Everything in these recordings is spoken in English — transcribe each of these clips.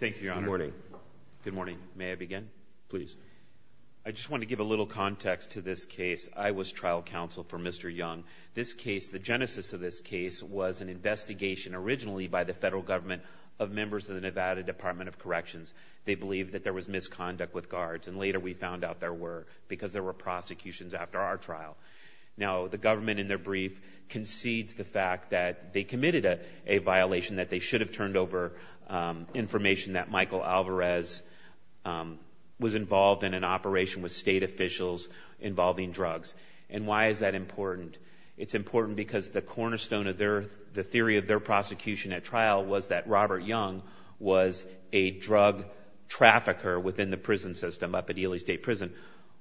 Thank you, Your Honor. Good morning. Good morning. May I begin? Please. I just want to give a little context to this case. I was trial counsel for Mr. Young. This case, the genesis of this case, was an investigation originally by the federal government of members of the Nevada Department of Corrections. They believed that there was misconduct with guards and later we found out there were because there were prosecutions after our trial. Now, the government in their brief concedes the fact that they committed a violation that they should have turned over information that Michael Alvarez was involved in an operation with state officials involving drugs. And why is that important? It's important because the cornerstone of their, the theory of their prosecution at trial was that Robert Young was a drug trafficker within the prison system up at Ely State Prison.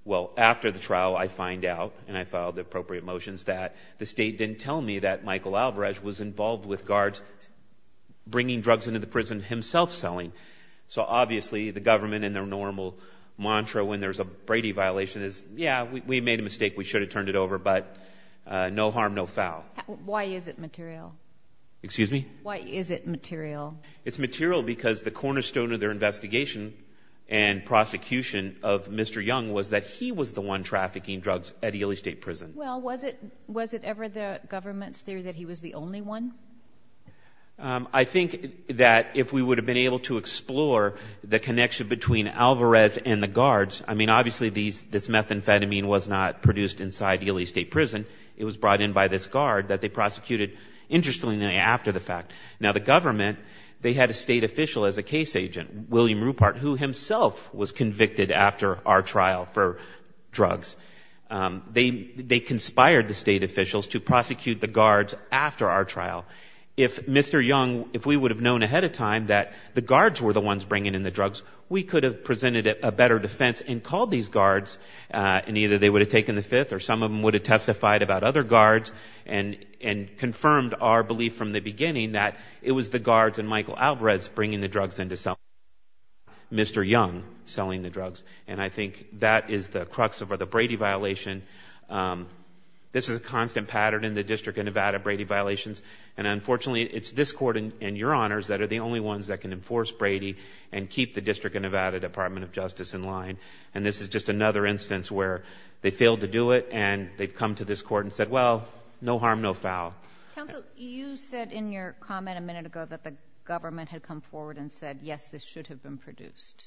Well, after the trial, I find out and I filed the appropriate motions that the state didn't tell me that Michael Alvarez was involved with guards bringing drugs into the prison himself selling. So, obviously, the government in their normal mantra when there's a Brady violation is, yeah, we made a mistake, we should have turned it over, but no harm, no foul. Why is it material? Excuse me? Why is it material? It's material because the cornerstone of their investigation and prosecution of Mr. Young was that he was the one trafficking drugs at Ely State Prison. Well, was it ever the government's theory that he was the only one? I think that if we would have been able to explore the connection between Alvarez and the guards, I mean, obviously, this methamphetamine was not produced inside Ely State Prison. It was brought in by this guard that they prosecuted interestingly after the fact. Now, the government, they had a state official as a case agent, William Ruppert, who himself was convicted after our trial for drugs. They conspired the state officials to prosecute the guards after our trial. If Mr. Young, if we would have known ahead of time that the guards were the ones bringing in the drugs, we could have presented a better defense and called these guards and either they would have taken the fifth or some of them would have testified about other guards and confirmed our belief from the beginning that it was the guards and Michael Alvarez bringing the drugs in to sell. Mr. Young selling the drugs, and I think that is the crux of the Brady violation. This is a constant pattern in the District of Nevada, Brady violations, and unfortunately, it's this court and your honors that are the only ones that can enforce Brady and keep the District of Nevada Department of Justice in line, and this is just another instance where they failed to do it and they've come to this court and said, well, no harm, no foul. Counsel, you said in your comment a minute ago that the government had come forward and said, yes, this should have been produced.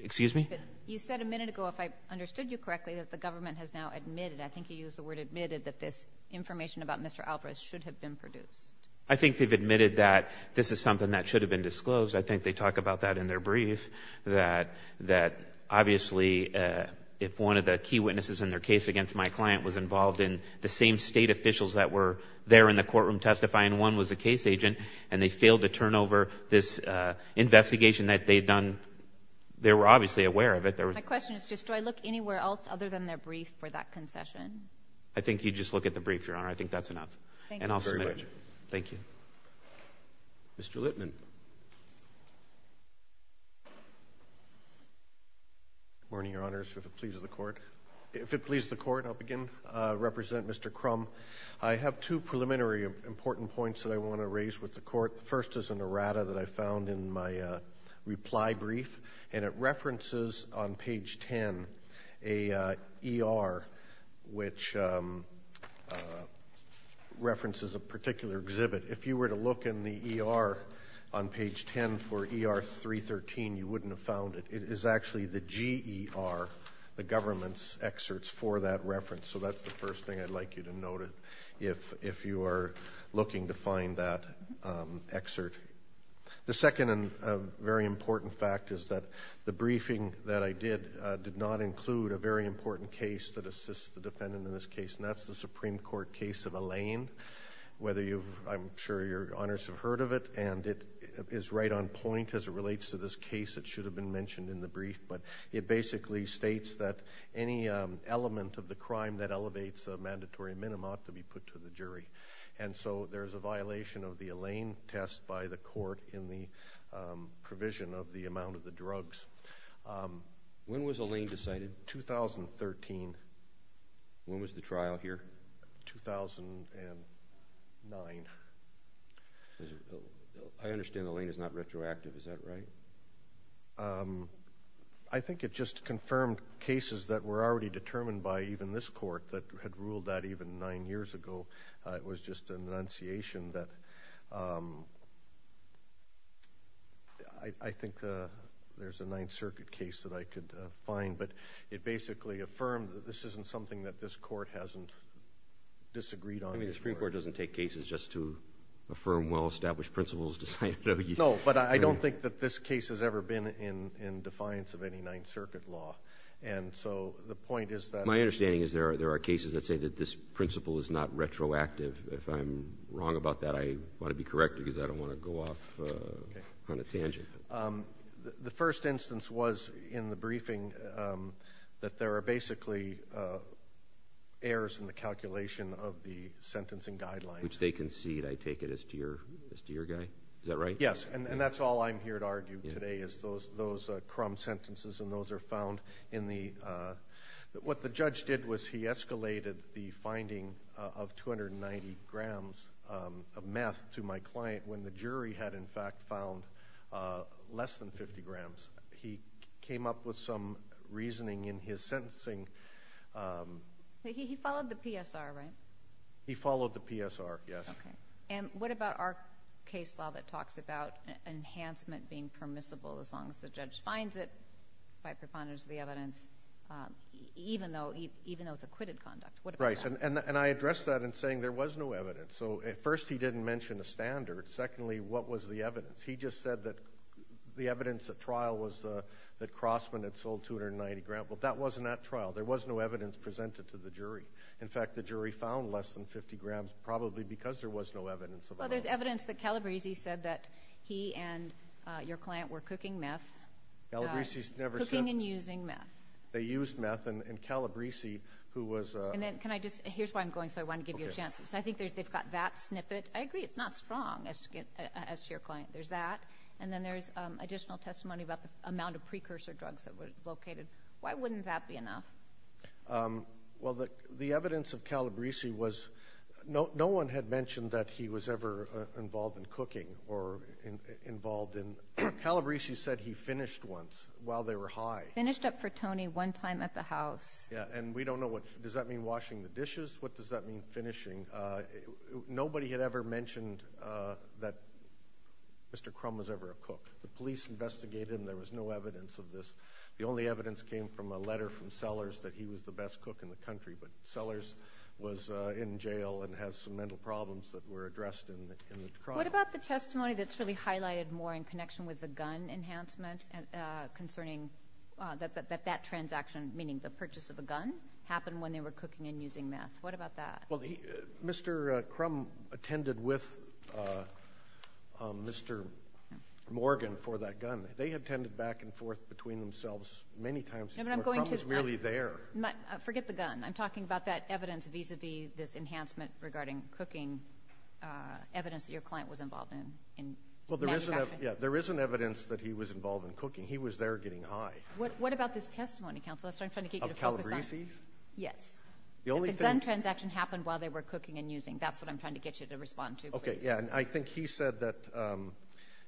Excuse me? You said a minute ago, if I understood you correctly, that the government has now admitted, I think you used the word admitted, that this information about Mr. Alvarez should have been produced. I think they've admitted that this is something that should have been disclosed. I think they talk about that in their brief, that obviously if one of the key witnesses in their case against my client was involved in the same state officials that were there in the courtroom testifying, one was a case agent, and they failed to turn over this investigation that they'd done, they were obviously aware of it. My question is just, do I look anywhere else other than their brief for that concession? I think you just look at the brief, Your Honor. I think that's enough. Thank you very much. And I'll submit it. Thank you. Mr. Littman. Good morning, Your Honors, if it pleases the Court. If it pleases the Court, I'll begin. I represent Mr. Crum. I have two preliminary important points that I want to raise with the Court. The first is an errata that I found in my reply brief, and it references on page 10 an ER which references a particular exhibit. If you were to look in the ER on page 10 for ER 313, you wouldn't have found it. It is actually the GER, the government's excerpts for that reference, so that's the first thing I'd like you to note if you are looking to find that excerpt. The second and very important fact is that the briefing that I did did not include a very important case that assists the defendant in this case, and that's the Supreme Court case of Allain. I'm sure Your Honors have heard of it, and it is right on point as it relates to this case. It should have been mentioned in the brief, but it basically states that any element of the crime that elevates a mandatory minimum ought to be put to the jury. And so there's a violation of the Allain test by the Court in the provision of the amount of the drugs. When was Allain decided? 2013. When was the trial here? 2009. I understand Allain is not retroactive. Is that right? I think it just confirmed cases that were already determined by even this Court that had ruled that even nine years ago. It was just an enunciation that I think there's a Ninth Circuit case that I could find, but it basically affirmed that this isn't something that this Court hasn't disagreed on. I mean, the Supreme Court doesn't take cases just to affirm well-established principles. No, but I don't think that this case has ever been in defiance of any Ninth Circuit law. My understanding is there are cases that say that this principle is not retroactive. If I'm wrong about that, I want to be corrected because I don't want to go off on a tangent. The first instance was in the briefing that there are basically errors in the calculation of the sentencing guidelines. Which they concede, I take it, as to your guy. Is that right? Yes, and that's all I'm here to argue today is those crumb sentences and those are found in the – what the judge did was he escalated the finding of 290 grams of meth to my client when the jury had in fact found less than 50 grams. He came up with some reasoning in his sentencing. He followed the PSR, right? He followed the PSR, yes. Okay, and what about our case law that talks about enhancement being permissible as long as the judge finds it by preponderance of the evidence even though it's acquitted conduct? What about that? Right, and I address that in saying there was no evidence. First, he didn't mention a standard. Secondly, what was the evidence? He just said that the evidence at trial was that Crossman had sold 290 grams, but that wasn't at trial. There was no evidence presented to the jury. In fact, the jury found less than 50 grams probably because there was no evidence. Well, there's evidence that Calabresi said that he and your client were cooking meth. Calabresi never said – Cooking and using meth. They used meth, and Calabresi, who was – And then can I just – here's where I'm going, so I want to give you a chance. I think they've got that snippet. I agree it's not strong as to your client. There's that, and then there's additional testimony about the amount of precursor drugs that were located. Why wouldn't that be enough? Well, the evidence of Calabresi was – No one had mentioned that he was ever involved in cooking or involved in – Calabresi said he finished once while they were high. Finished up for Tony one time at the house. Yeah, and we don't know what – does that mean washing the dishes? What does that mean, finishing? Nobody had ever mentioned that Mr. Crum was ever a cook. The police investigated him. There was no evidence of this. The only evidence came from a letter from Sellers that he was the best cook in the country, but Sellers was in jail and has some mental problems that were addressed in the trial. What about the testimony that's really highlighted more in connection with the gun enhancement concerning that that transaction, meaning the purchase of the gun, happened when they were cooking and using meth? What about that? Well, Mr. Crum attended with Mr. Morgan for that gun. They had tended back and forth between themselves many times before. Mr. Crum was merely there. Forget the gun. I'm talking about that evidence vis-à-vis this enhancement regarding cooking, evidence that your client was involved in manufacturing. Well, there is an evidence that he was involved in cooking. He was there getting high. What about this testimony, counsel? That's what I'm trying to get you to focus on. Of Calabresi? Yes. If the gun transaction happened while they were cooking and using, that's what I'm trying to get you to respond to, please. Yeah, and I think he said that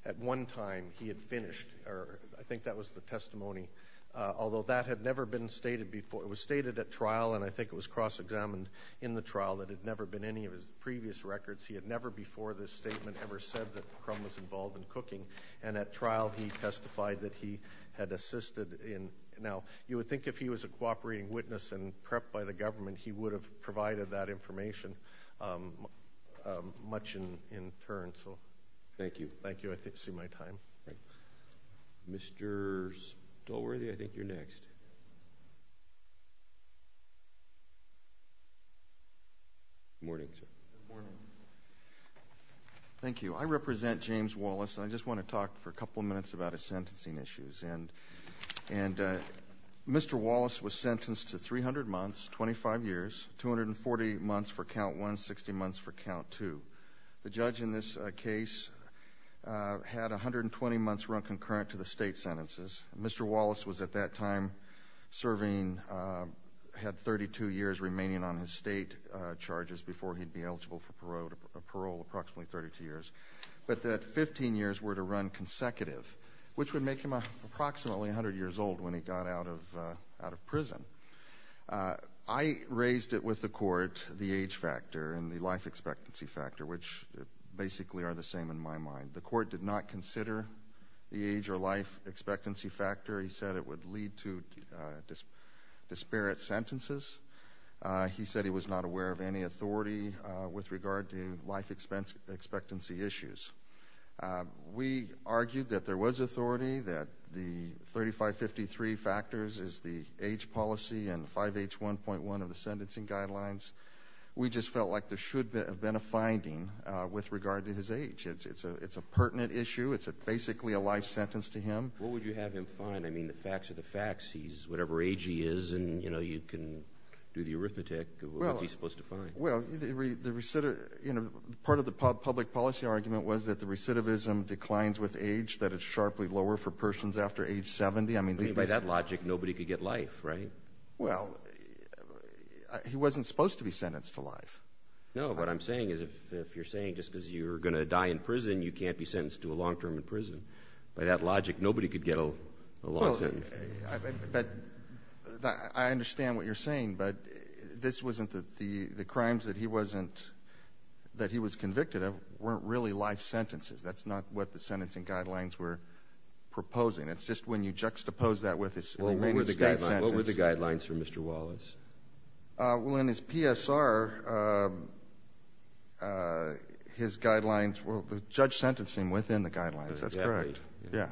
at one time he had finished, or I think that was the testimony, although that had never been stated before. It was stated at trial, and I think it was cross-examined in the trial, that it had never been in any of his previous records. He had never before this statement ever said that Crum was involved in cooking, and at trial he testified that he had assisted in. Now, you would think if he was a cooperating witness and prepped by the government, he would have provided that information much in turn. Thank you. Thank you. I see my time. Mr. Stolworthy, I think you're next. Good morning, sir. Good morning. Thank you. I represent James Wallace, and I just want to talk for a couple minutes about his sentencing issues. And Mr. Wallace was sentenced to 300 months, 25 years, 240 months for count one, 60 months for count two. The judge in this case had 120 months run concurrent to the state sentences. Mr. Wallace was at that time serving, had 32 years remaining on his state charges before he'd be eligible for parole, approximately 32 years. But that 15 years were to run consecutive, which would make him approximately 100 years old when he got out of prison. I raised it with the court, the age factor and the life expectancy factor, which basically are the same in my mind. The court did not consider the age or life expectancy factor. He said it would lead to disparate sentences. He said he was not aware of any authority with regard to life expectancy issues. We argued that there was authority, that the 3553 factors is the age policy and 5H1.1 of the sentencing guidelines. We just felt like there should have been a finding with regard to his age. It's a pertinent issue. It's basically a life sentence to him. What would you have him find? I mean, the facts are the facts. He's whatever age he is, and you can do the arithmetic. What's he supposed to find? Well, part of the public policy argument was that the recidivism declines with age, that it's sharply lower for persons after age 70. I mean, by that logic, nobody could get life, right? Well, he wasn't supposed to be sentenced to life. No, what I'm saying is if you're saying just because you're going to die in prison, you can't be sentenced to a long term in prison. By that logic, nobody could get a long sentence. I understand what you're saying, but this wasn't the crimes that he was convicted of weren't really life sentences. That's not what the sentencing guidelines were proposing. It's just when you juxtapose that with his remaining state sentence. What were the guidelines for Mr. Wallace? Well, in his PSR, his guidelines were the judge sentencing within the guidelines. That's correct. Yeah,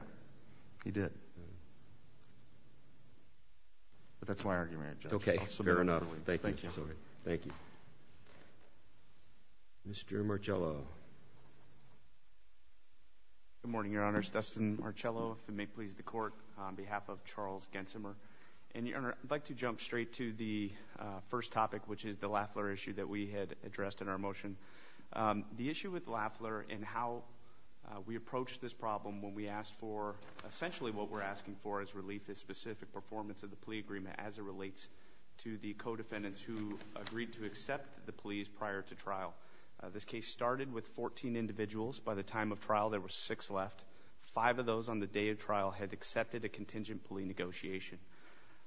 he did. But that's my argument. Okay, fair enough. Thank you. Thank you. Mr. Marcello. Good morning, Your Honor. Dustin Marcello, if it may please the Court, on behalf of Charles Gensimer. And, Your Honor, I'd like to jump straight to the first topic, which is the Lafleur issue that we had addressed in our motion. The issue with Lafleur and how we approached this problem when we asked for, essentially what we're asking for is relief of specific performance of the plea agreement as it relates to the co-defendants who agreed to accept the pleas prior to trial. This case started with 14 individuals. By the time of trial, there were six left. Five of those on the day of trial had accepted a contingent plea negotiation.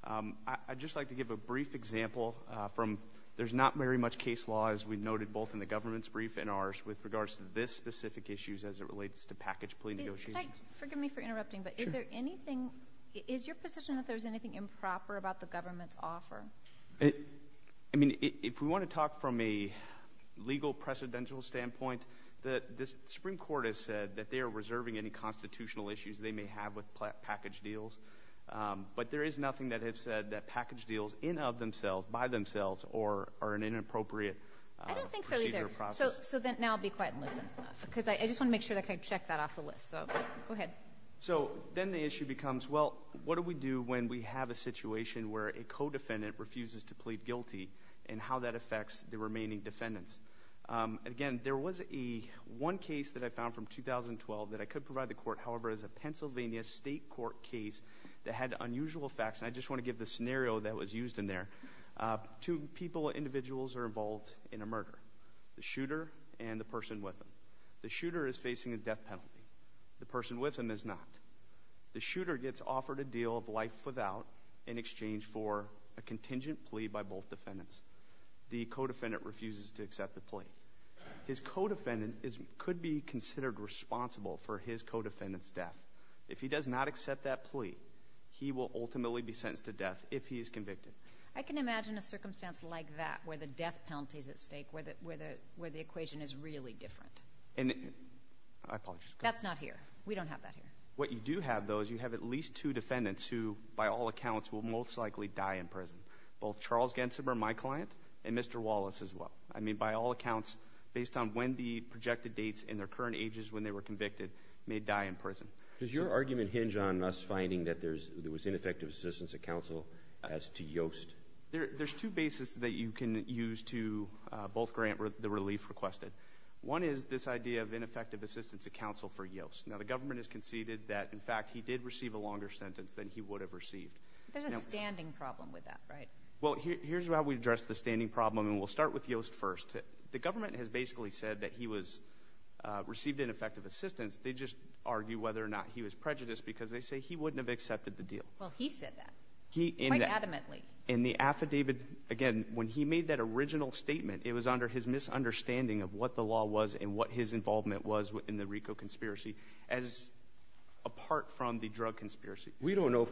I'd just like to give a brief example from – there's not very much case law, as we noted both in the government's brief and ours, with regards to this specific issue as it relates to package plea negotiations. Can I – forgive me for interrupting, but is there anything – is your position that there's anything improper about the government's offer? I mean, if we want to talk from a legal precedential standpoint, the Supreme Court has said that they are reserving any constitutional issues they may have with package deals. But there is nothing that has said that package deals in of themselves, by themselves, are an inappropriate procedure or process. I don't think so either. So now be quiet and listen because I just want to make sure that I check that off the list. So go ahead. So then the issue becomes, well, what do we do when we have a situation where a co-defendant refuses to plead guilty and how that affects the remaining defendants? Again, there was one case that I found from 2012 that I could provide the court. However, it was a Pennsylvania state court case that had unusual effects, and I just want to give the scenario that was used in there. Two people, individuals, are involved in a murder, the shooter and the person with them. The shooter is facing a death penalty. The person with him is not. The shooter gets offered a deal of life without in exchange for a contingent plea by both defendants. The co-defendant refuses to accept the plea. His co-defendant could be considered responsible for his co-defendant's death. If he does not accept that plea, he will ultimately be sentenced to death if he is convicted. I can imagine a circumstance like that where the death penalty is at stake, where the equation is really different. And I apologize. That's not here. We don't have that here. What you do have, though, is you have at least two defendants who, by all accounts, will most likely die in prison. Both Charles Gensiber, my client, and Mr. Wallace as well. I mean, by all accounts, based on when the projected dates and their current ages when they were convicted, may die in prison. Does your argument hinge on us finding that there was ineffective assistance at counsel as to Yoast? There's two bases that you can use to both grant the relief requested. One is this idea of ineffective assistance at counsel for Yoast. Now, the government has conceded that, in fact, he did receive a longer sentence than he would have received. There's a standing problem with that, right? Well, here's how we address the standing problem, and we'll start with Yoast first. The government has basically said that he received ineffective assistance. They just argue whether or not he was prejudiced because they say he wouldn't have accepted the deal. Well, he said that quite adamantly. In the affidavit, again, when he made that original statement, it was under his misunderstanding of what the law was and what his involvement was in the RICO conspiracy as apart from the drug conspiracy. We don't know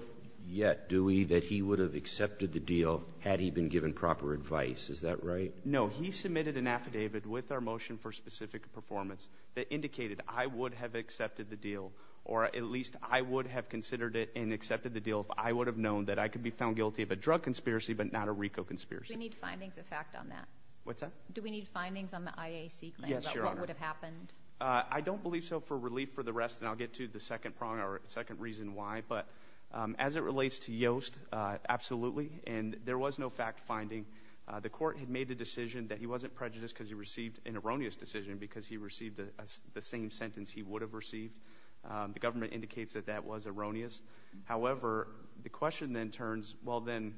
yet, do we, that he would have accepted the deal had he been given proper advice. Is that right? No. He submitted an affidavit with our motion for specific performance that indicated I would have accepted the deal, or at least I would have considered it and accepted the deal if I would have known that I could be found guilty of a drug conspiracy but not a RICO conspiracy. Do we need findings of fact on that? What's that? Do we need findings on the IAC claim about what would have happened? I don't believe so for relief for the rest, and I'll get to the second prong or second reason why. But as it relates to Yoast, absolutely, and there was no fact finding. The court had made the decision that he wasn't prejudiced because he received an erroneous decision because he received the same sentence he would have received. The government indicates that that was erroneous. However, the question then turns, well, then,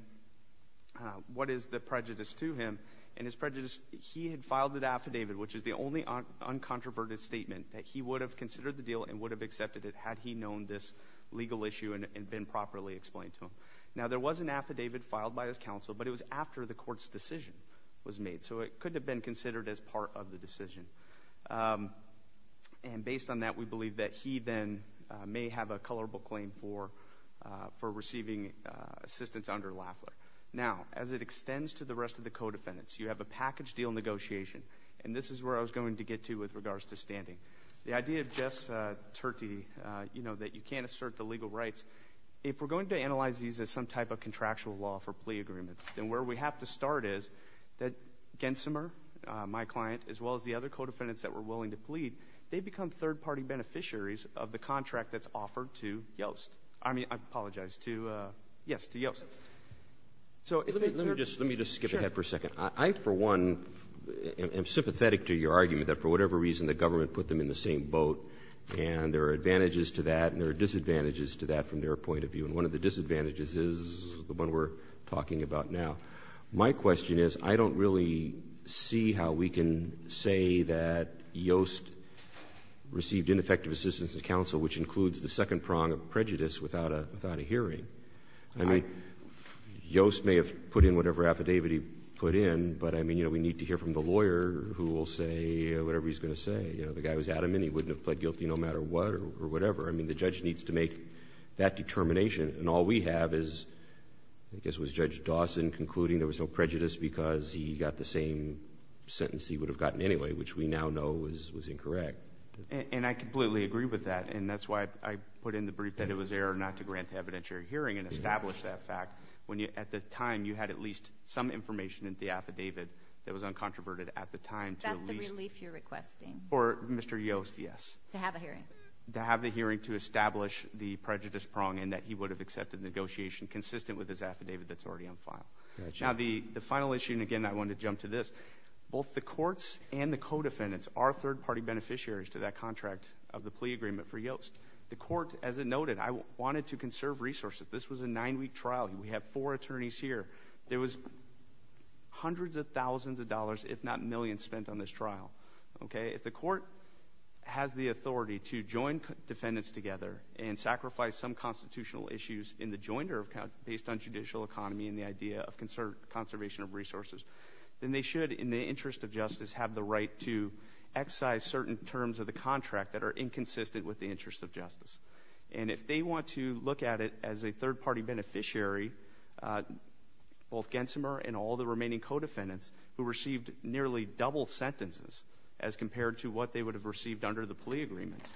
what is the prejudice to him? And his prejudice, he had filed an affidavit, which is the only uncontroverted statement that he would have considered the deal and would have accepted it had he known this legal issue and been properly explained to him. Now, there was an affidavit filed by his counsel, but it was after the court's decision was made, so it couldn't have been considered as part of the decision. And based on that, we believe that he then may have a colorable claim for receiving assistance under Lafler. Now, as it extends to the rest of the co-defendants, you have a package deal negotiation, and this is where I was going to get to with regards to standing. The idea of ges-terti, you know, that you can't assert the legal rights, if we're going to analyze these as some type of contractual law for plea agreements, then where we have to start is that Gensimer, my client, as well as the other co-defendants that were willing to plead, they become third-party beneficiaries of the contract that's offered to Yoast. I mean, I apologize, to Yoast. Let me just skip ahead for a second. I, for one, am sympathetic to your argument that for whatever reason the government put them in the same boat, and there are advantages to that and there are disadvantages to that from their point of view, and one of the disadvantages is the one we're talking about now. My question is, I don't really see how we can say that Yoast received ineffective assistance counsel, which includes the second prong of prejudice without a hearing. I mean, Yoast may have put in whatever affidavit he put in, but I mean, you know, we need to hear from the lawyer who will say whatever he's going to say. You know, the guy was adamant he wouldn't have pled guilty no matter what or whatever. I mean, the judge needs to make that determination, and all we have is I guess it was Judge Dawson concluding there was no prejudice because he got the same sentence he would have gotten anyway, which we now know was incorrect. And I completely agree with that, and that's why I put in the brief that it was error not to grant the evidentiary hearing and establish that fact when at the time you had at least some information in the affidavit that was uncontroverted at the time to at least— That's the relief you're requesting. Or Mr. Yoast, yes. To have a hearing. To have the hearing to establish the prejudice prong in that he would have accepted the negotiation consistent with his affidavit that's already on file. Now the final issue, and again I want to jump to this, both the courts and the co-defendants are third-party beneficiaries to that contract of the plea agreement for Yoast. The court, as I noted, wanted to conserve resources. This was a nine-week trial. We have four attorneys here. There was hundreds of thousands of dollars, if not millions, spent on this trial. If the court has the authority to join defendants together and sacrifice some constitutional issues in the joinder based on judicial economy and the idea of conservation of resources, then they should, in the interest of justice, have the right to excise certain terms of the contract that are inconsistent with the interest of justice. And if they want to look at it as a third-party beneficiary, both Gensimer and all the remaining co-defendants who received nearly double sentences as compared to what they would have received under the plea agreements,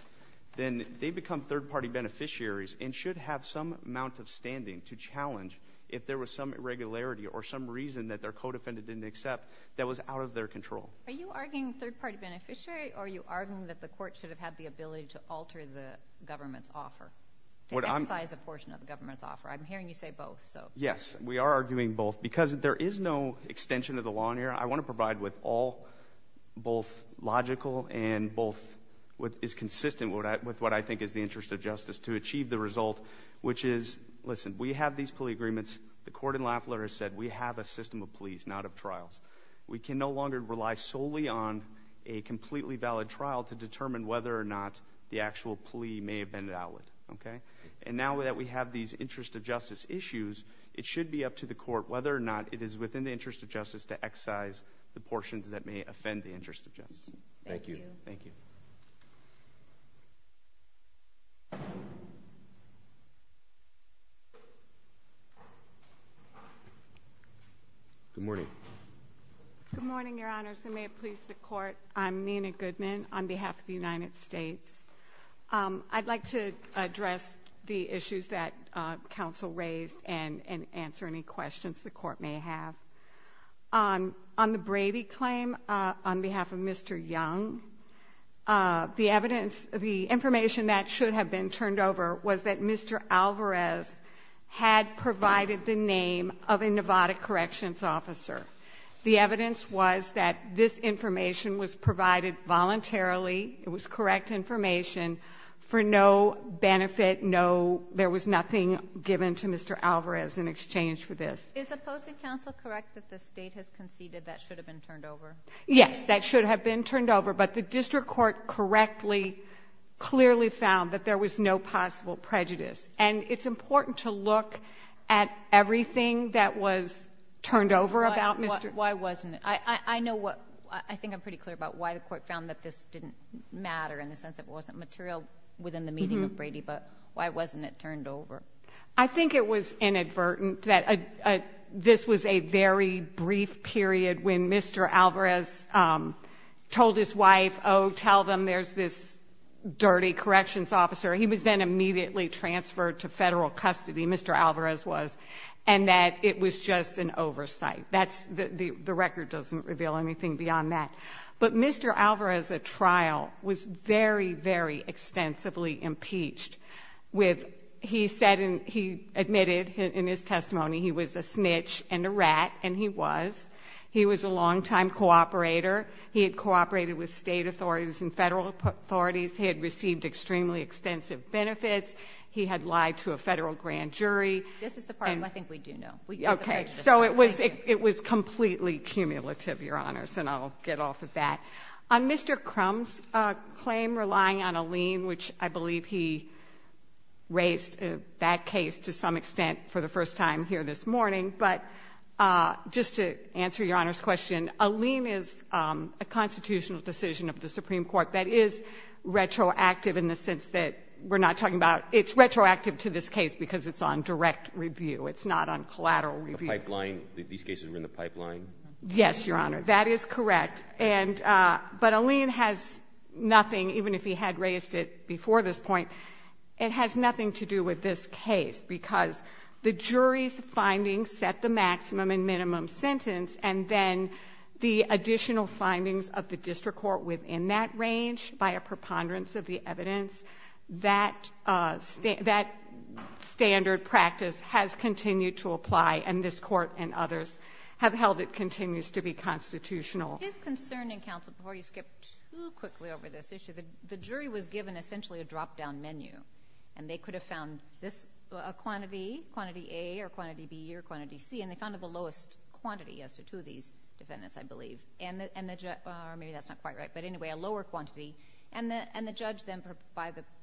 then they become third-party beneficiaries and should have some amount of standing to challenge if there was some irregularity or some reason that their co-defendant didn't accept that was out of their control. Are you arguing third-party beneficiary, or are you arguing that the court should have had the ability to alter the government's offer, to excise a portion of the government's offer? I'm hearing you say both. Yes, we are arguing both because there is no extension of the law in here. I want to provide with all both logical and both what is consistent with what I think is the interest of justice to achieve the result, which is, listen, we have these plea agreements. The court in Lafler has said we have a system of pleas, not of trials. We can no longer rely solely on a completely valid trial to determine whether or not the actual plea may have been valid. And now that we have these interest of justice issues, it should be up to the court whether or not it is within the interest of justice to excise the portions that may offend the interest of justice. Thank you. Thank you. Good morning. Good morning, Your Honors. And may it please the Court, I'm Nina Goodman on behalf of the United States. I'd like to address the issues that counsel raised and answer any questions the Court may have. On the Brady claim, on behalf of Mr. Young, the evidence, the information that should have been turned over was that Mr. Alvarez had provided the name of a Nevada corrections officer. The evidence was that this information was provided voluntarily. It was correct information for no benefit, no, there was nothing given to Mr. Alvarez in exchange for this. Is opposing counsel correct that the State has conceded that should have been turned over? Yes, that should have been turned over, but the district court correctly, clearly found that there was no possible prejudice. And it's important to look at everything that was turned over about Mr. Why wasn't it? I know what, I think I'm pretty clear about why the court found that this didn't matter in the sense that it wasn't material within the meeting of Brady, but why wasn't it turned over? I think it was inadvertent that this was a very brief period when Mr. Alvarez told his wife, oh, tell them there's this dirty corrections officer. He was then immediately transferred to Federal custody, Mr. Alvarez was, and that it was just an oversight. That's, the record doesn't reveal anything beyond that. But Mr. Alvarez's trial was very, very extensively impeached. He admitted in his testimony he was a snitch and a rat, and he was. He was a long-time cooperator. He had cooperated with State authorities and Federal authorities. He had received extremely extensive benefits. He had lied to a Federal grand jury. This is the part I think we do know. Okay, so it was completely cumulative, Your Honors. And I'll get off of that. On Mr. Crum's claim relying on a lien, which I believe he raised that case to some extent for the first time here this morning. But just to answer Your Honor's question, a lien is a constitutional decision of the Supreme Court that is retroactive in the sense that we're not talking about, it's retroactive to this case because it's on direct review. It's not on collateral review. The pipeline, these cases were in the pipeline? Yes, Your Honor. That is correct. But a lien has nothing, even if he had raised it before this point, it has nothing to do with this case because the jury's findings set the maximum and minimum sentence and then the additional findings of the district court within that range by a preponderance of the evidence, that standard practice has continued to apply and this court and others have held it continues to be constitutional. It is concerning, counsel, before you skip too quickly over this issue, the jury was given essentially a drop-down menu and they could have found this, a quantity, quantity A or quantity B or quantity C, and they found it the lowest quantity as to two of these defendants, I believe. Or maybe that's not quite right. But anyway, a lower quantity. And the judge then,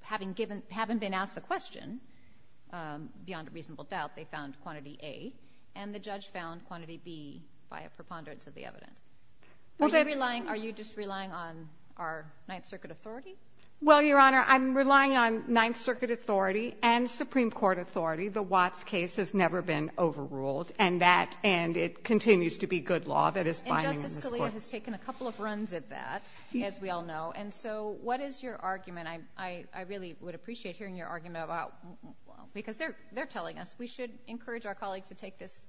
having been asked the question, beyond a reasonable doubt, they found quantity A and the judge found quantity B by a preponderance of the evidence. Are you relying, are you just relying on our Ninth Circuit authority? Well, Your Honor, I'm relying on Ninth Circuit authority and Supreme Court authority. The Watts case has never been overruled and that, and it continues to be good law that is binding on this court. And Justice Scalia has taken a couple of runs at that, as we all know. And so what is your argument? I really would appreciate hearing your argument about, because they're telling us, we should encourage our colleagues to take this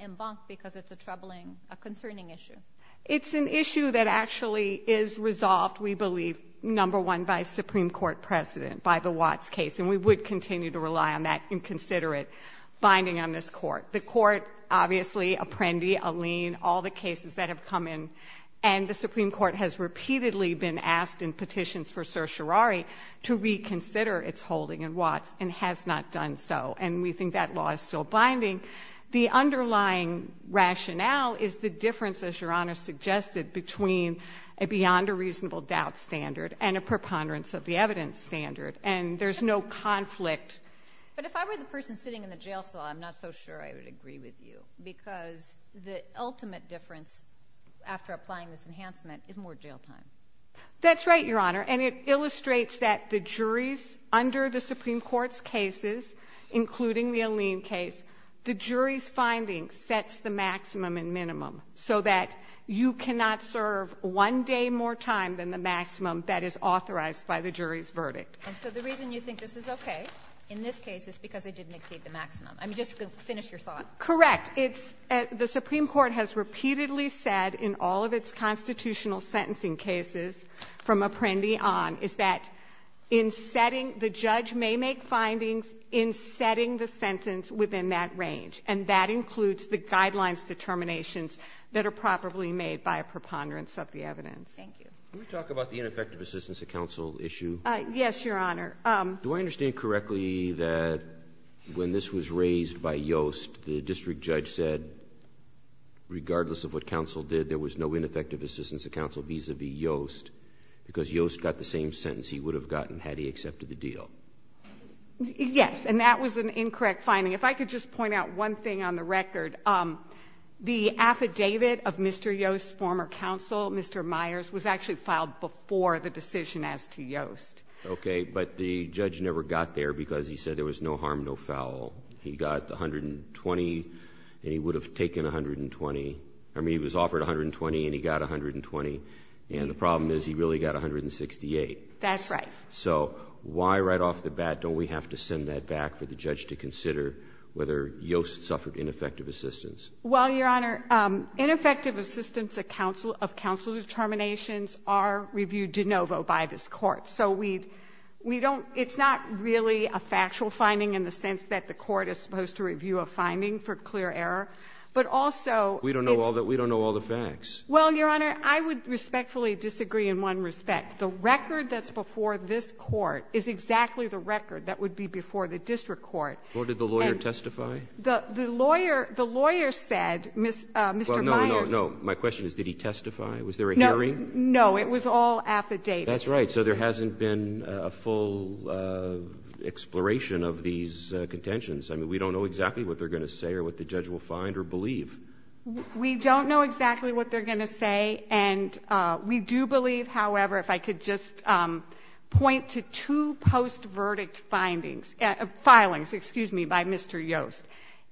en banc because it's a troubling, a concerning issue. It's an issue that actually is resolved, we believe, number one, by Supreme Court precedent, by the Watts case. And we would continue to rely on that inconsiderate binding on this court. The court, obviously, Apprendi, Alleen, all the cases that have come in, and the Supreme Court has repeatedly been asked in petitions for certiorari to reconsider its holding in Watts and has not done so. And we think that law is still binding. The underlying rationale is the difference, as Your Honor suggested, between a beyond-a-reasonable-doubt standard and a preponderance-of-the-evidence standard. And there's no conflict. But if I were the person sitting in the jail cell, I'm not so sure I would agree with you, because the ultimate difference, after applying this enhancement, is more jail time. That's right, Your Honor. And it illustrates that the juries under the Supreme Court's cases, including the Alleen case, the jury's finding sets the maximum and minimum, so that you cannot serve one day more time than the maximum that is authorized by the jury's verdict. And so the reason you think this is okay in this case is because it didn't exceed the maximum. I'm just going to finish your thought. Correct. It's the Supreme Court has repeatedly said in all of its constitutional sentencing cases from Apprendi on, is that in setting the judge may make findings in setting the sentence within that range. And that includes the guidelines determinations that are probably made by a preponderance of the evidence. Thank you. Can we talk about the ineffective assistance of counsel issue? Yes, Your Honor. Do I understand correctly that when this was raised by Yost, the district judge said, regardless of what counsel did, there was no ineffective assistance of counsel vis-a-vis Yost, because Yost got the same sentence he would have gotten had he accepted the deal? Yes. And that was an incorrect finding. If I could just point out one thing on the record. The affidavit of Mr. Yost's former counsel, Mr. Myers, was actually filed before the decision as to Yost. Okay. But the judge never got there because he said there was no harm, no foul. He got 120 and he would have taken 120. I mean, he was offered 120 and he got 120. And the problem is he really got 168. That's right. So why right off the bat don't we have to send that back for the judge to consider whether Yost suffered ineffective assistance? Well, Your Honor, ineffective assistance of counsel determinations are reviewed de novo by this Court. So we don't, it's not really a factual finding in the sense that the Court is supposed to review a finding for clear error, but also it's. We don't know all the facts. Well, Your Honor, I would respectfully disagree in one respect. The record that's before this Court is exactly the record that would be before the district court. Well, did the lawyer testify? The lawyer said, Mr. Myers. Well, no, no, no. My question is did he testify? Was there a hearing? It was all affidavits. That's right. So there hasn't been a full exploration of these contentions. I mean, we don't know exactly what they're going to say or what the judge will find or believe. We don't know exactly what they're going to say, and we do believe, however, if I could just point to two post-verdict findings, filings, excuse me, by Mr. Yost.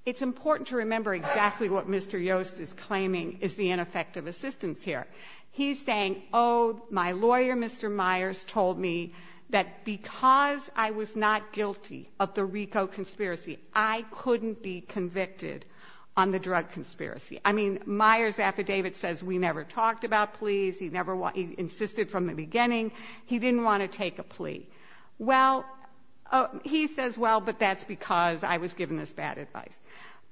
It's important to remember exactly what Mr. Yost is claiming is the ineffective assistance here. He's saying, oh, my lawyer, Mr. Myers, told me that because I was not guilty of the RICO conspiracy, I couldn't be convicted on the drug conspiracy. I mean, Myers' affidavit says we never talked about pleas. He insisted from the beginning he didn't want to take a plea. Well, he says, well, but that's because I was given this bad advice.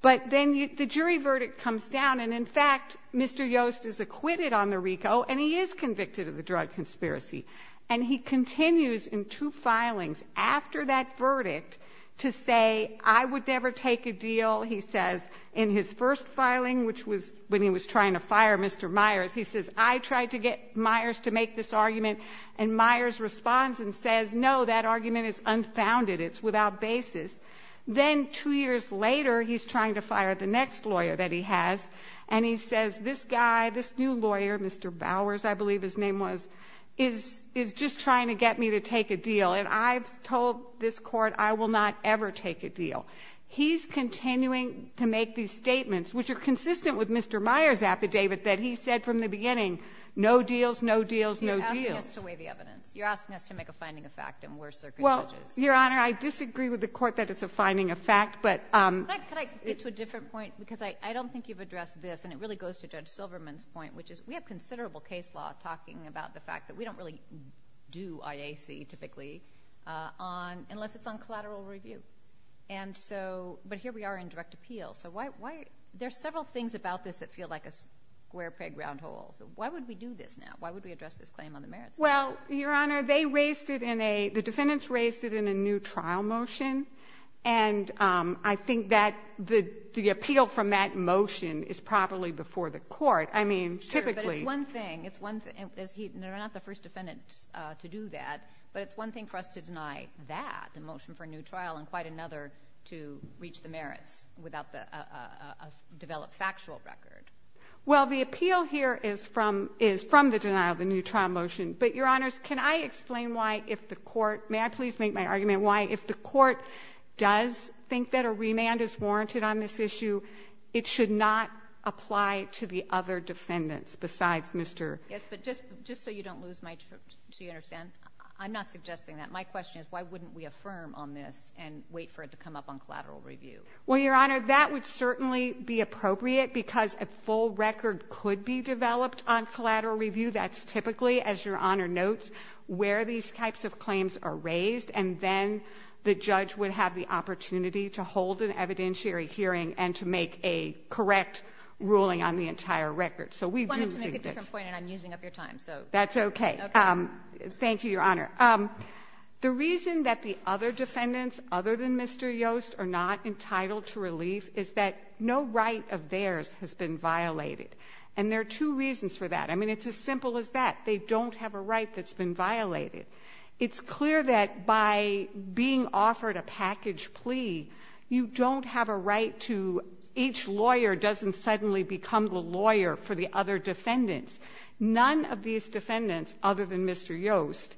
But then the jury verdict comes down. And, in fact, Mr. Yost is acquitted on the RICO, and he is convicted of the drug conspiracy. And he continues in two filings after that verdict to say, I would never take a deal, he says, in his first filing, which was when he was trying to fire Mr. Myers. He says, I tried to get Myers to make this argument. And Myers responds and says, no, that argument is unfounded. It's without basis. Then two years later, he's trying to fire the next lawyer that he has. And he says, this guy, this new lawyer, Mr. Bowers, I believe his name was, is just trying to get me to take a deal. And I've told this court I will not ever take a deal. He's continuing to make these statements, which are consistent with Mr. Myers' affidavit that he said from the beginning, no deals, no deals, no deals. You're asking us to weigh the evidence. You're asking us to make a finding of fact, and we're circuit judges. Your Honor, I disagree with the court that it's a finding of fact. Could I get to a different point? Because I don't think you've addressed this, and it really goes to Judge Silverman's point, which is we have considerable case law talking about the fact that we don't really do IAC, typically, unless it's on collateral review. But here we are in direct appeal. So there are several things about this that feel like a square peg round hole. So why would we do this now? Why would we address this claim on the merits? Well, Your Honor, they raised it in a the defendants raised it in a new trial motion. And I think that the appeal from that motion is probably before the court. Sure, but it's one thing. It's one thing. They're not the first defendants to do that. But it's one thing for us to deny that, the motion for a new trial, and quite another to reach the merits without a developed factual record. Well, the appeal here is from the denial of the new trial motion. But, Your Honors, can I explain why, if the court – may I please make my argument why, if the court does think that a remand is warranted on this issue, it should not apply to the other defendants besides Mr. Yes, but just so you don't lose my – so you understand, I'm not suggesting that. My question is why wouldn't we affirm on this and wait for it to come up on collateral review? Well, Your Honor, that would certainly be appropriate, because a full record could be developed on collateral review. That's typically, as Your Honor notes, where these types of claims are raised. And then the judge would have the opportunity to hold an evidentiary hearing and to make a correct ruling on the entire record. So we do think that's – I wanted to make a different point, and I'm using up your time, so – That's okay. Okay. Thank you, Your Honor. The reason that the other defendants other than Mr. Yost are not entitled to relief is that no right of theirs has been violated. And there are two reasons for that. I mean, it's as simple as that. They don't have a right that's been violated. It's clear that by being offered a package plea, you don't have a right to – each lawyer doesn't suddenly become the lawyer for the other defendants. None of these defendants, other than Mr. Yost,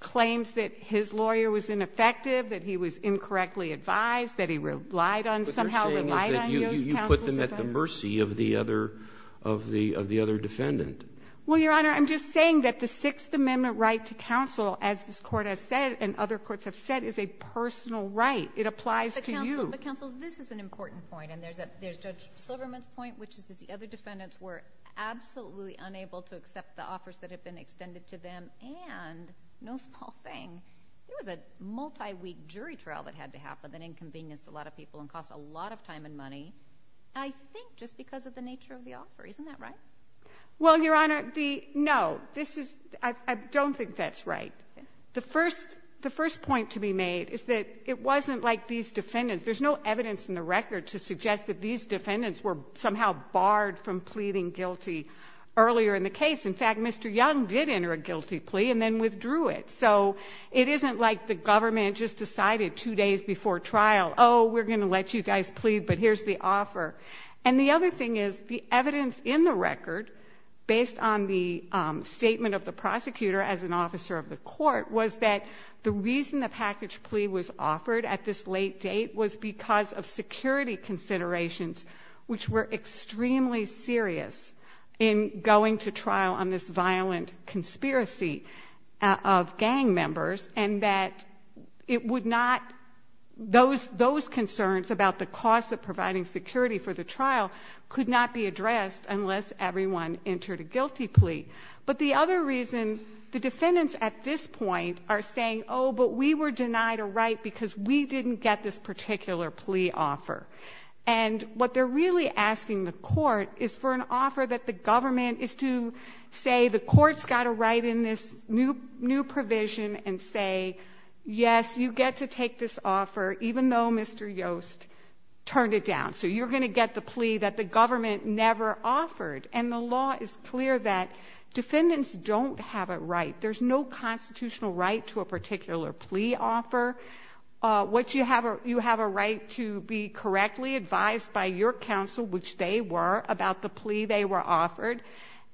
claims that his lawyer was ineffective, that he was incorrectly advised, that he relied on – somehow relied on Yost Counsel's What you're saying is that you put them at the mercy of the other – of the other defendant. Well, Your Honor, I'm just saying that the Sixth Amendment right to counsel, as this Court has said and other courts have said, is a personal right. It applies to you. But, Counsel, this is an important point. And there's Judge Silverman's point, which is that the other defendants were absolutely unable to accept the offers that had been extended to them. And, no small thing, there was a multi-week jury trial that had to happen that inconvenienced a lot of people and cost a lot of time and money, I think just because of the nature of the offer. Isn't that right? Well, Your Honor, the – no. This is – I don't think that's right. The first – the first point to be made is that it wasn't like these defendants – there's no evidence in the record to suggest that these defendants were somehow barred from earlier in the case. In fact, Mr. Young did enter a guilty plea and then withdrew it. So it isn't like the government just decided two days before trial, oh, we're going to let you guys plead, but here's the offer. And the other thing is, the evidence in the record, based on the statement of the prosecutor as an officer of the court, was that the reason the package plea was offered at this because of security considerations, which were extremely serious in going to trial on this violent conspiracy of gang members, and that it would not – those concerns about the cost of providing security for the trial could not be addressed unless everyone entered a guilty plea. But the other reason the defendants at this point are saying, oh, but we were denied a plea offer. And what they're really asking the court is for an offer that the government is to say the court's got a right in this new provision and say, yes, you get to take this offer, even though Mr. Yost turned it down. So you're going to get the plea that the government never offered. And the law is clear that defendants don't have a right. There's no constitutional right to a particular plea offer. You have a right to be correctly advised by your counsel, which they were, about the plea they were offered.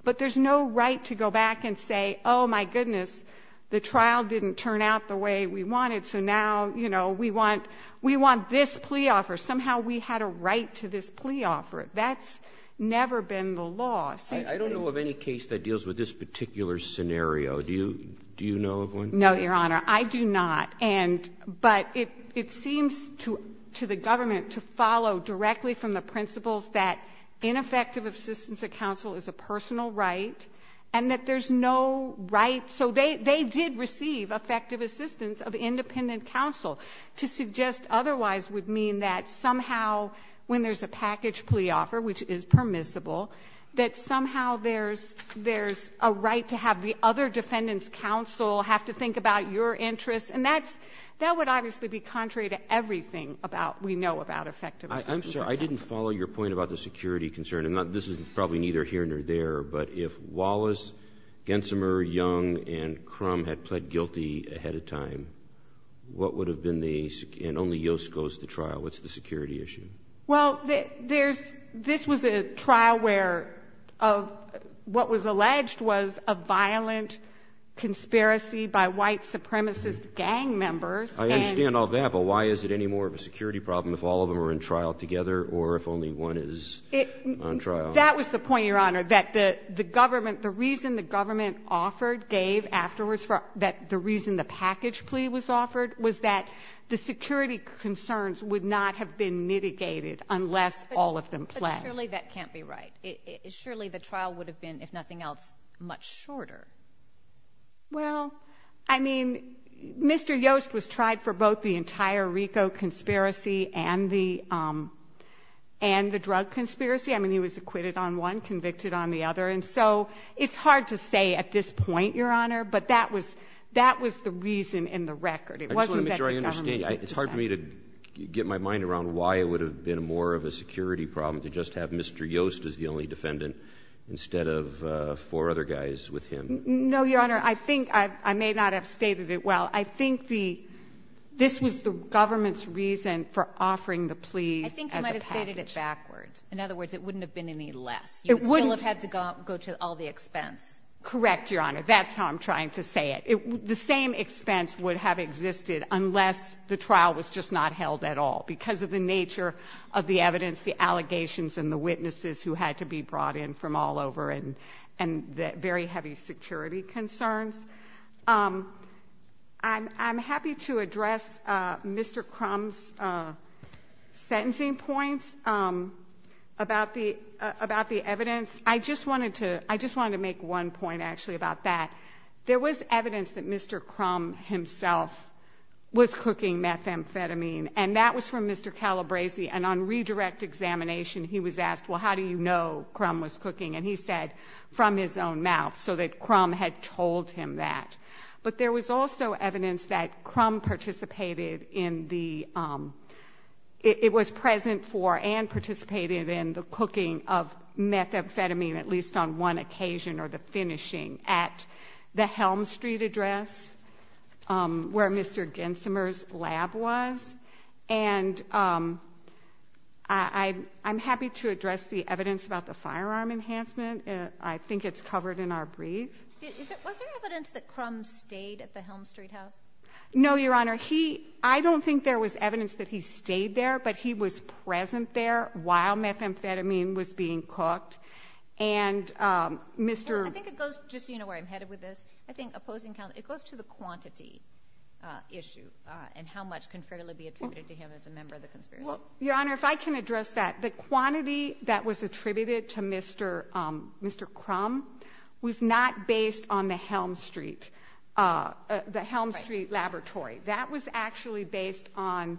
But there's no right to go back and say, oh, my goodness, the trial didn't turn out the way we wanted, so now, you know, we want this plea offer. Somehow we had a right to this plea offer. That's never been the law. I don't know of any case that deals with this particular scenario. Do you know of one? No, Your Honor, I do not. But it seems to the government to follow directly from the principles that ineffective assistance of counsel is a personal right and that there's no right. So they did receive effective assistance of independent counsel. To suggest otherwise would mean that somehow when there's a package plea offer, which is permissible, that somehow there's a right to have the other defendant's interests, and that would obviously be contrary to everything we know about effective assistance of counsel. I'm sorry. I didn't follow your point about the security concern. This is probably neither here nor there, but if Wallace, Gensimer, Young, and Crum had pled guilty ahead of time, what would have been the, and only Yost goes to trial, what's the security issue? Well, this was a trial where what was alleged was a violent conspiracy by white supremacist gang members. I understand all that, but why is it any more of a security problem if all of them are in trial together or if only one is on trial? That was the point, Your Honor, that the government, the reason the government offered, gave afterwards, that the reason the package plea was offered was that the security concerns would not have been mitigated unless all of them pled. But surely that can't be right. Surely the trial would have been, if nothing else, much shorter. Well, I mean, Mr. Yost was tried for both the entire RICO conspiracy and the drug conspiracy. I mean, he was acquitted on one, convicted on the other. And so it's hard to say at this point, Your Honor, but that was the reason in the record. It wasn't that the government decided. I just want to make sure I understand. It's hard for me to get my mind around why it would have been more of a security problem to just have Mr. Yost as the only defendant instead of four other guys with him. No, Your Honor. I think I may not have stated it well. I think the this was the government's reason for offering the plea as a package. I think you might have stated it backwards. In other words, it wouldn't have been any less. It wouldn't. You would still have had to go to all the expense. Correct, Your Honor. That's how I'm trying to say it. The same expense would have existed unless the trial was just not held at all because of the nature of the evidence, the allegations, and the witnesses who had to be brought in from all over and the very heavy security concerns. I'm happy to address Mr. Crum's sentencing points about the evidence. I just wanted to make one point, actually, about that. There was evidence that Mr. Crum himself was cooking methamphetamine, and that was from Mr. Calabresi. And on redirect examination, he was asked, well, how do you know Crum was cooking? And he said, from his own mouth, so that Crum had told him that. But there was also evidence that Crum participated in the it was present for and participated in the cooking of methamphetamine, at least on one occasion, or the finishing at the Helm Street address where Mr. Gensimer's lab was. And I'm happy to address the evidence about the firearm enhancement. I think it's covered in our brief. Was there evidence that Crum stayed at the Helm Street house? No, Your Honor. I don't think there was evidence that he stayed there, but he was present there while methamphetamine was being cooked. And Mr. I think it goes, just so you know where I'm headed with this. I think opposing counsel, it goes to the quantity issue and how much can fairly be attributed to him as a member of the conspiracy. Your Honor, if I can address that, the quantity that was attributed to Mr. Crum was not based on the Helm Street, the Helm Street laboratory. That was actually based on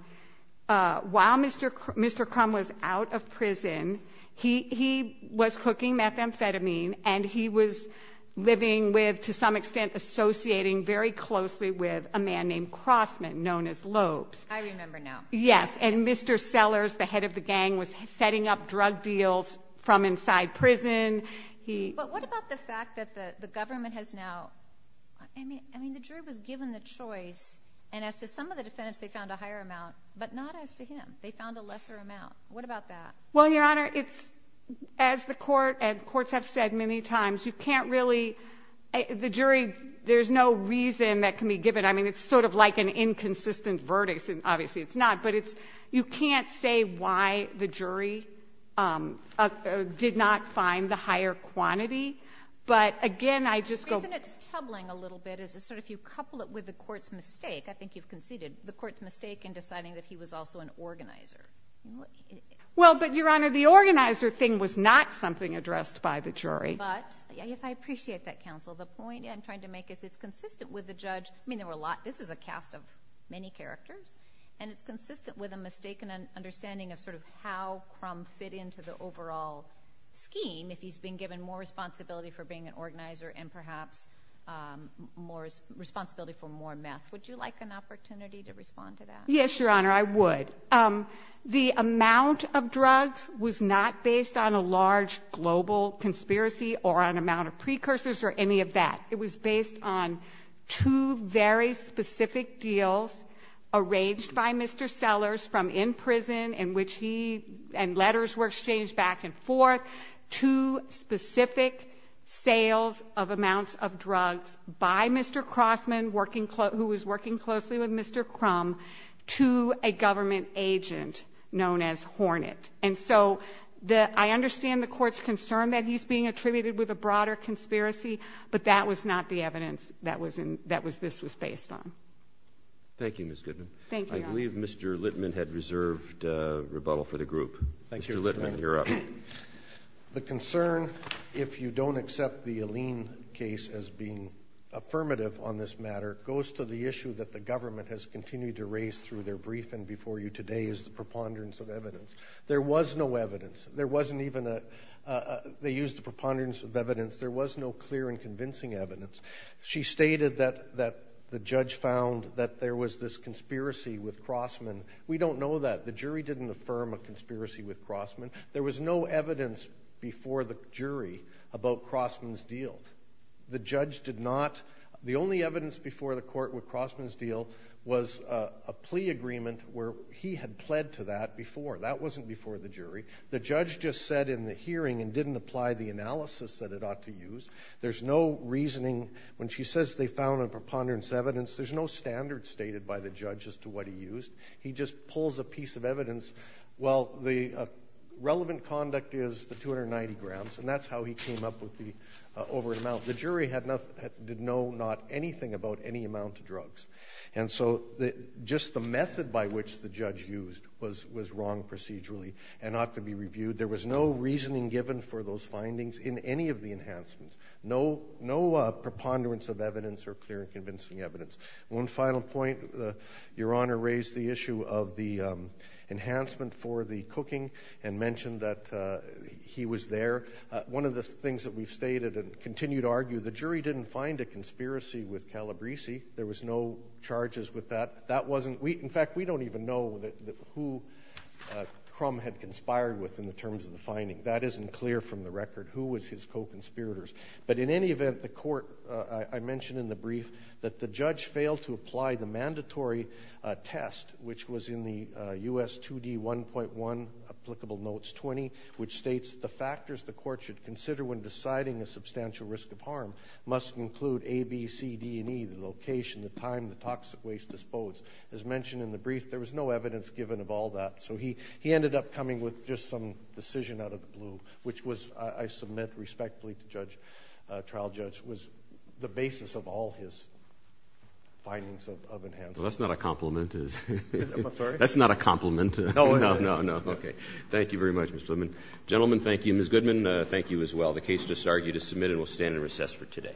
while Mr. Crum was out of prison, he was cooking methamphetamine and he was living with, to some extent, associating very closely with a man named Crossman, known as Lopes. I remember now. Yes. And Mr. Sellers, the head of the gang, was setting up drug deals from inside prison. But what about the fact that the government has now, I mean, the jury was given the choice and as to some of the defendants, they found a higher amount, but not as to him. They found a lesser amount. What about that? Well, Your Honor, it's, as the court and courts have said many times, you can't really, the jury, there's no reason that can be given. I mean, it's sort of like an inconsistent verdict. Obviously, it's not. But it's, you can't say why the jury did not find the higher quantity. But again, I just go. The reason it's troubling a little bit is if you couple it with the court's mistake, I think you've conceded, the court's mistake in deciding that he was also an organizer. Well, but Your Honor, the organizer thing was not something addressed by the jury. But, yes, I appreciate that, counsel. The point I'm trying to make is it's consistent with the judge. I mean, there were a lot, this is a cast of many characters, and it's consistent with a mistaken understanding of sort of how Crum fit into the overall scheme if he's been given more responsibility for being an organizer and perhaps more responsibility for more meth. Would you like an opportunity to respond to that? Yes, Your Honor, I would. The amount of drugs was not based on a large global conspiracy or an amount of precursors or any of that. It was based on two very specific deals arranged by Mr. Sellers from in prison in which he, and letters were exchanged back and forth, two specific sales of amounts of drugs by Mr. Crossman, who was working closely with Mr. Crum, to a government agent known as Hornet. And so I understand the court's concern that he's being attributed with a broader conspiracy, but that was not the evidence that this was based on. Thank you, Ms. Goodman. Thank you, Your Honor. I believe Mr. Littman had reserved rebuttal for the group. Thank you, Ms. Goodman. Mr. Littman, you're up. The concern, if you don't accept the Alleen case as being affirmative on this matter, goes to the issue that the government has continued to raise through their briefing before you today is the preponderance of evidence. There was no evidence. There wasn't even a—they used the preponderance of evidence. There was no clear and convincing evidence. She stated that the judge found that there was this conspiracy with Crossman. We don't know that. The jury didn't affirm a conspiracy with Crossman. There was no evidence before the jury about Crossman's deal. The judge did not—the only evidence before the court with Crossman's deal was a plea agreement where he had pled to that before. That wasn't before the jury. The judge just said in the hearing and didn't apply the analysis that it ought to use. There's no reasoning. When she says they found a preponderance of evidence, there's no standard stated by the judge as to what he used. He just pulls a piece of evidence. Well, the relevant conduct is the 290 grams, and that's how he came up with the—over an amount. The jury had not—did know not anything about any amount of drugs. And so just the method by which the judge used was wrong procedurally and ought to be reviewed. There was no reasoning given for those findings in any of the enhancements, no preponderance of evidence or clear and convincing evidence. One final point. Your Honor raised the issue of the enhancement for the cooking and mentioned that he was there. One of the things that we've stated and continue to argue, the jury didn't find a conspiracy with Calabresi. There was no charges with that. That wasn't—in fact, we don't even know who Crum had conspired with in the terms of the finding. That isn't clear from the record, who was his co-conspirators. But in any event, the court—I mentioned in the brief that the judge failed to apply the mandatory test, which was in the U.S. 2D 1.1 applicable notes 20, which states the factors the court should consider when deciding a substantial risk of harm must include A, B, C, D, and E, the location, the time, the toxic waste disposed. As mentioned in the brief, there was no evidence given of all that. Which was, I submit respectfully to trial judge, was the basis of all his findings of enhancements. Well, that's not a compliment. I'm sorry? That's not a compliment. No, no, no. Okay. Thank you very much, Mr. Goodman. Gentlemen, thank you. Ms. Goodman, thank you as well. The case just argued is submitted and will stand in recess for today. All rise.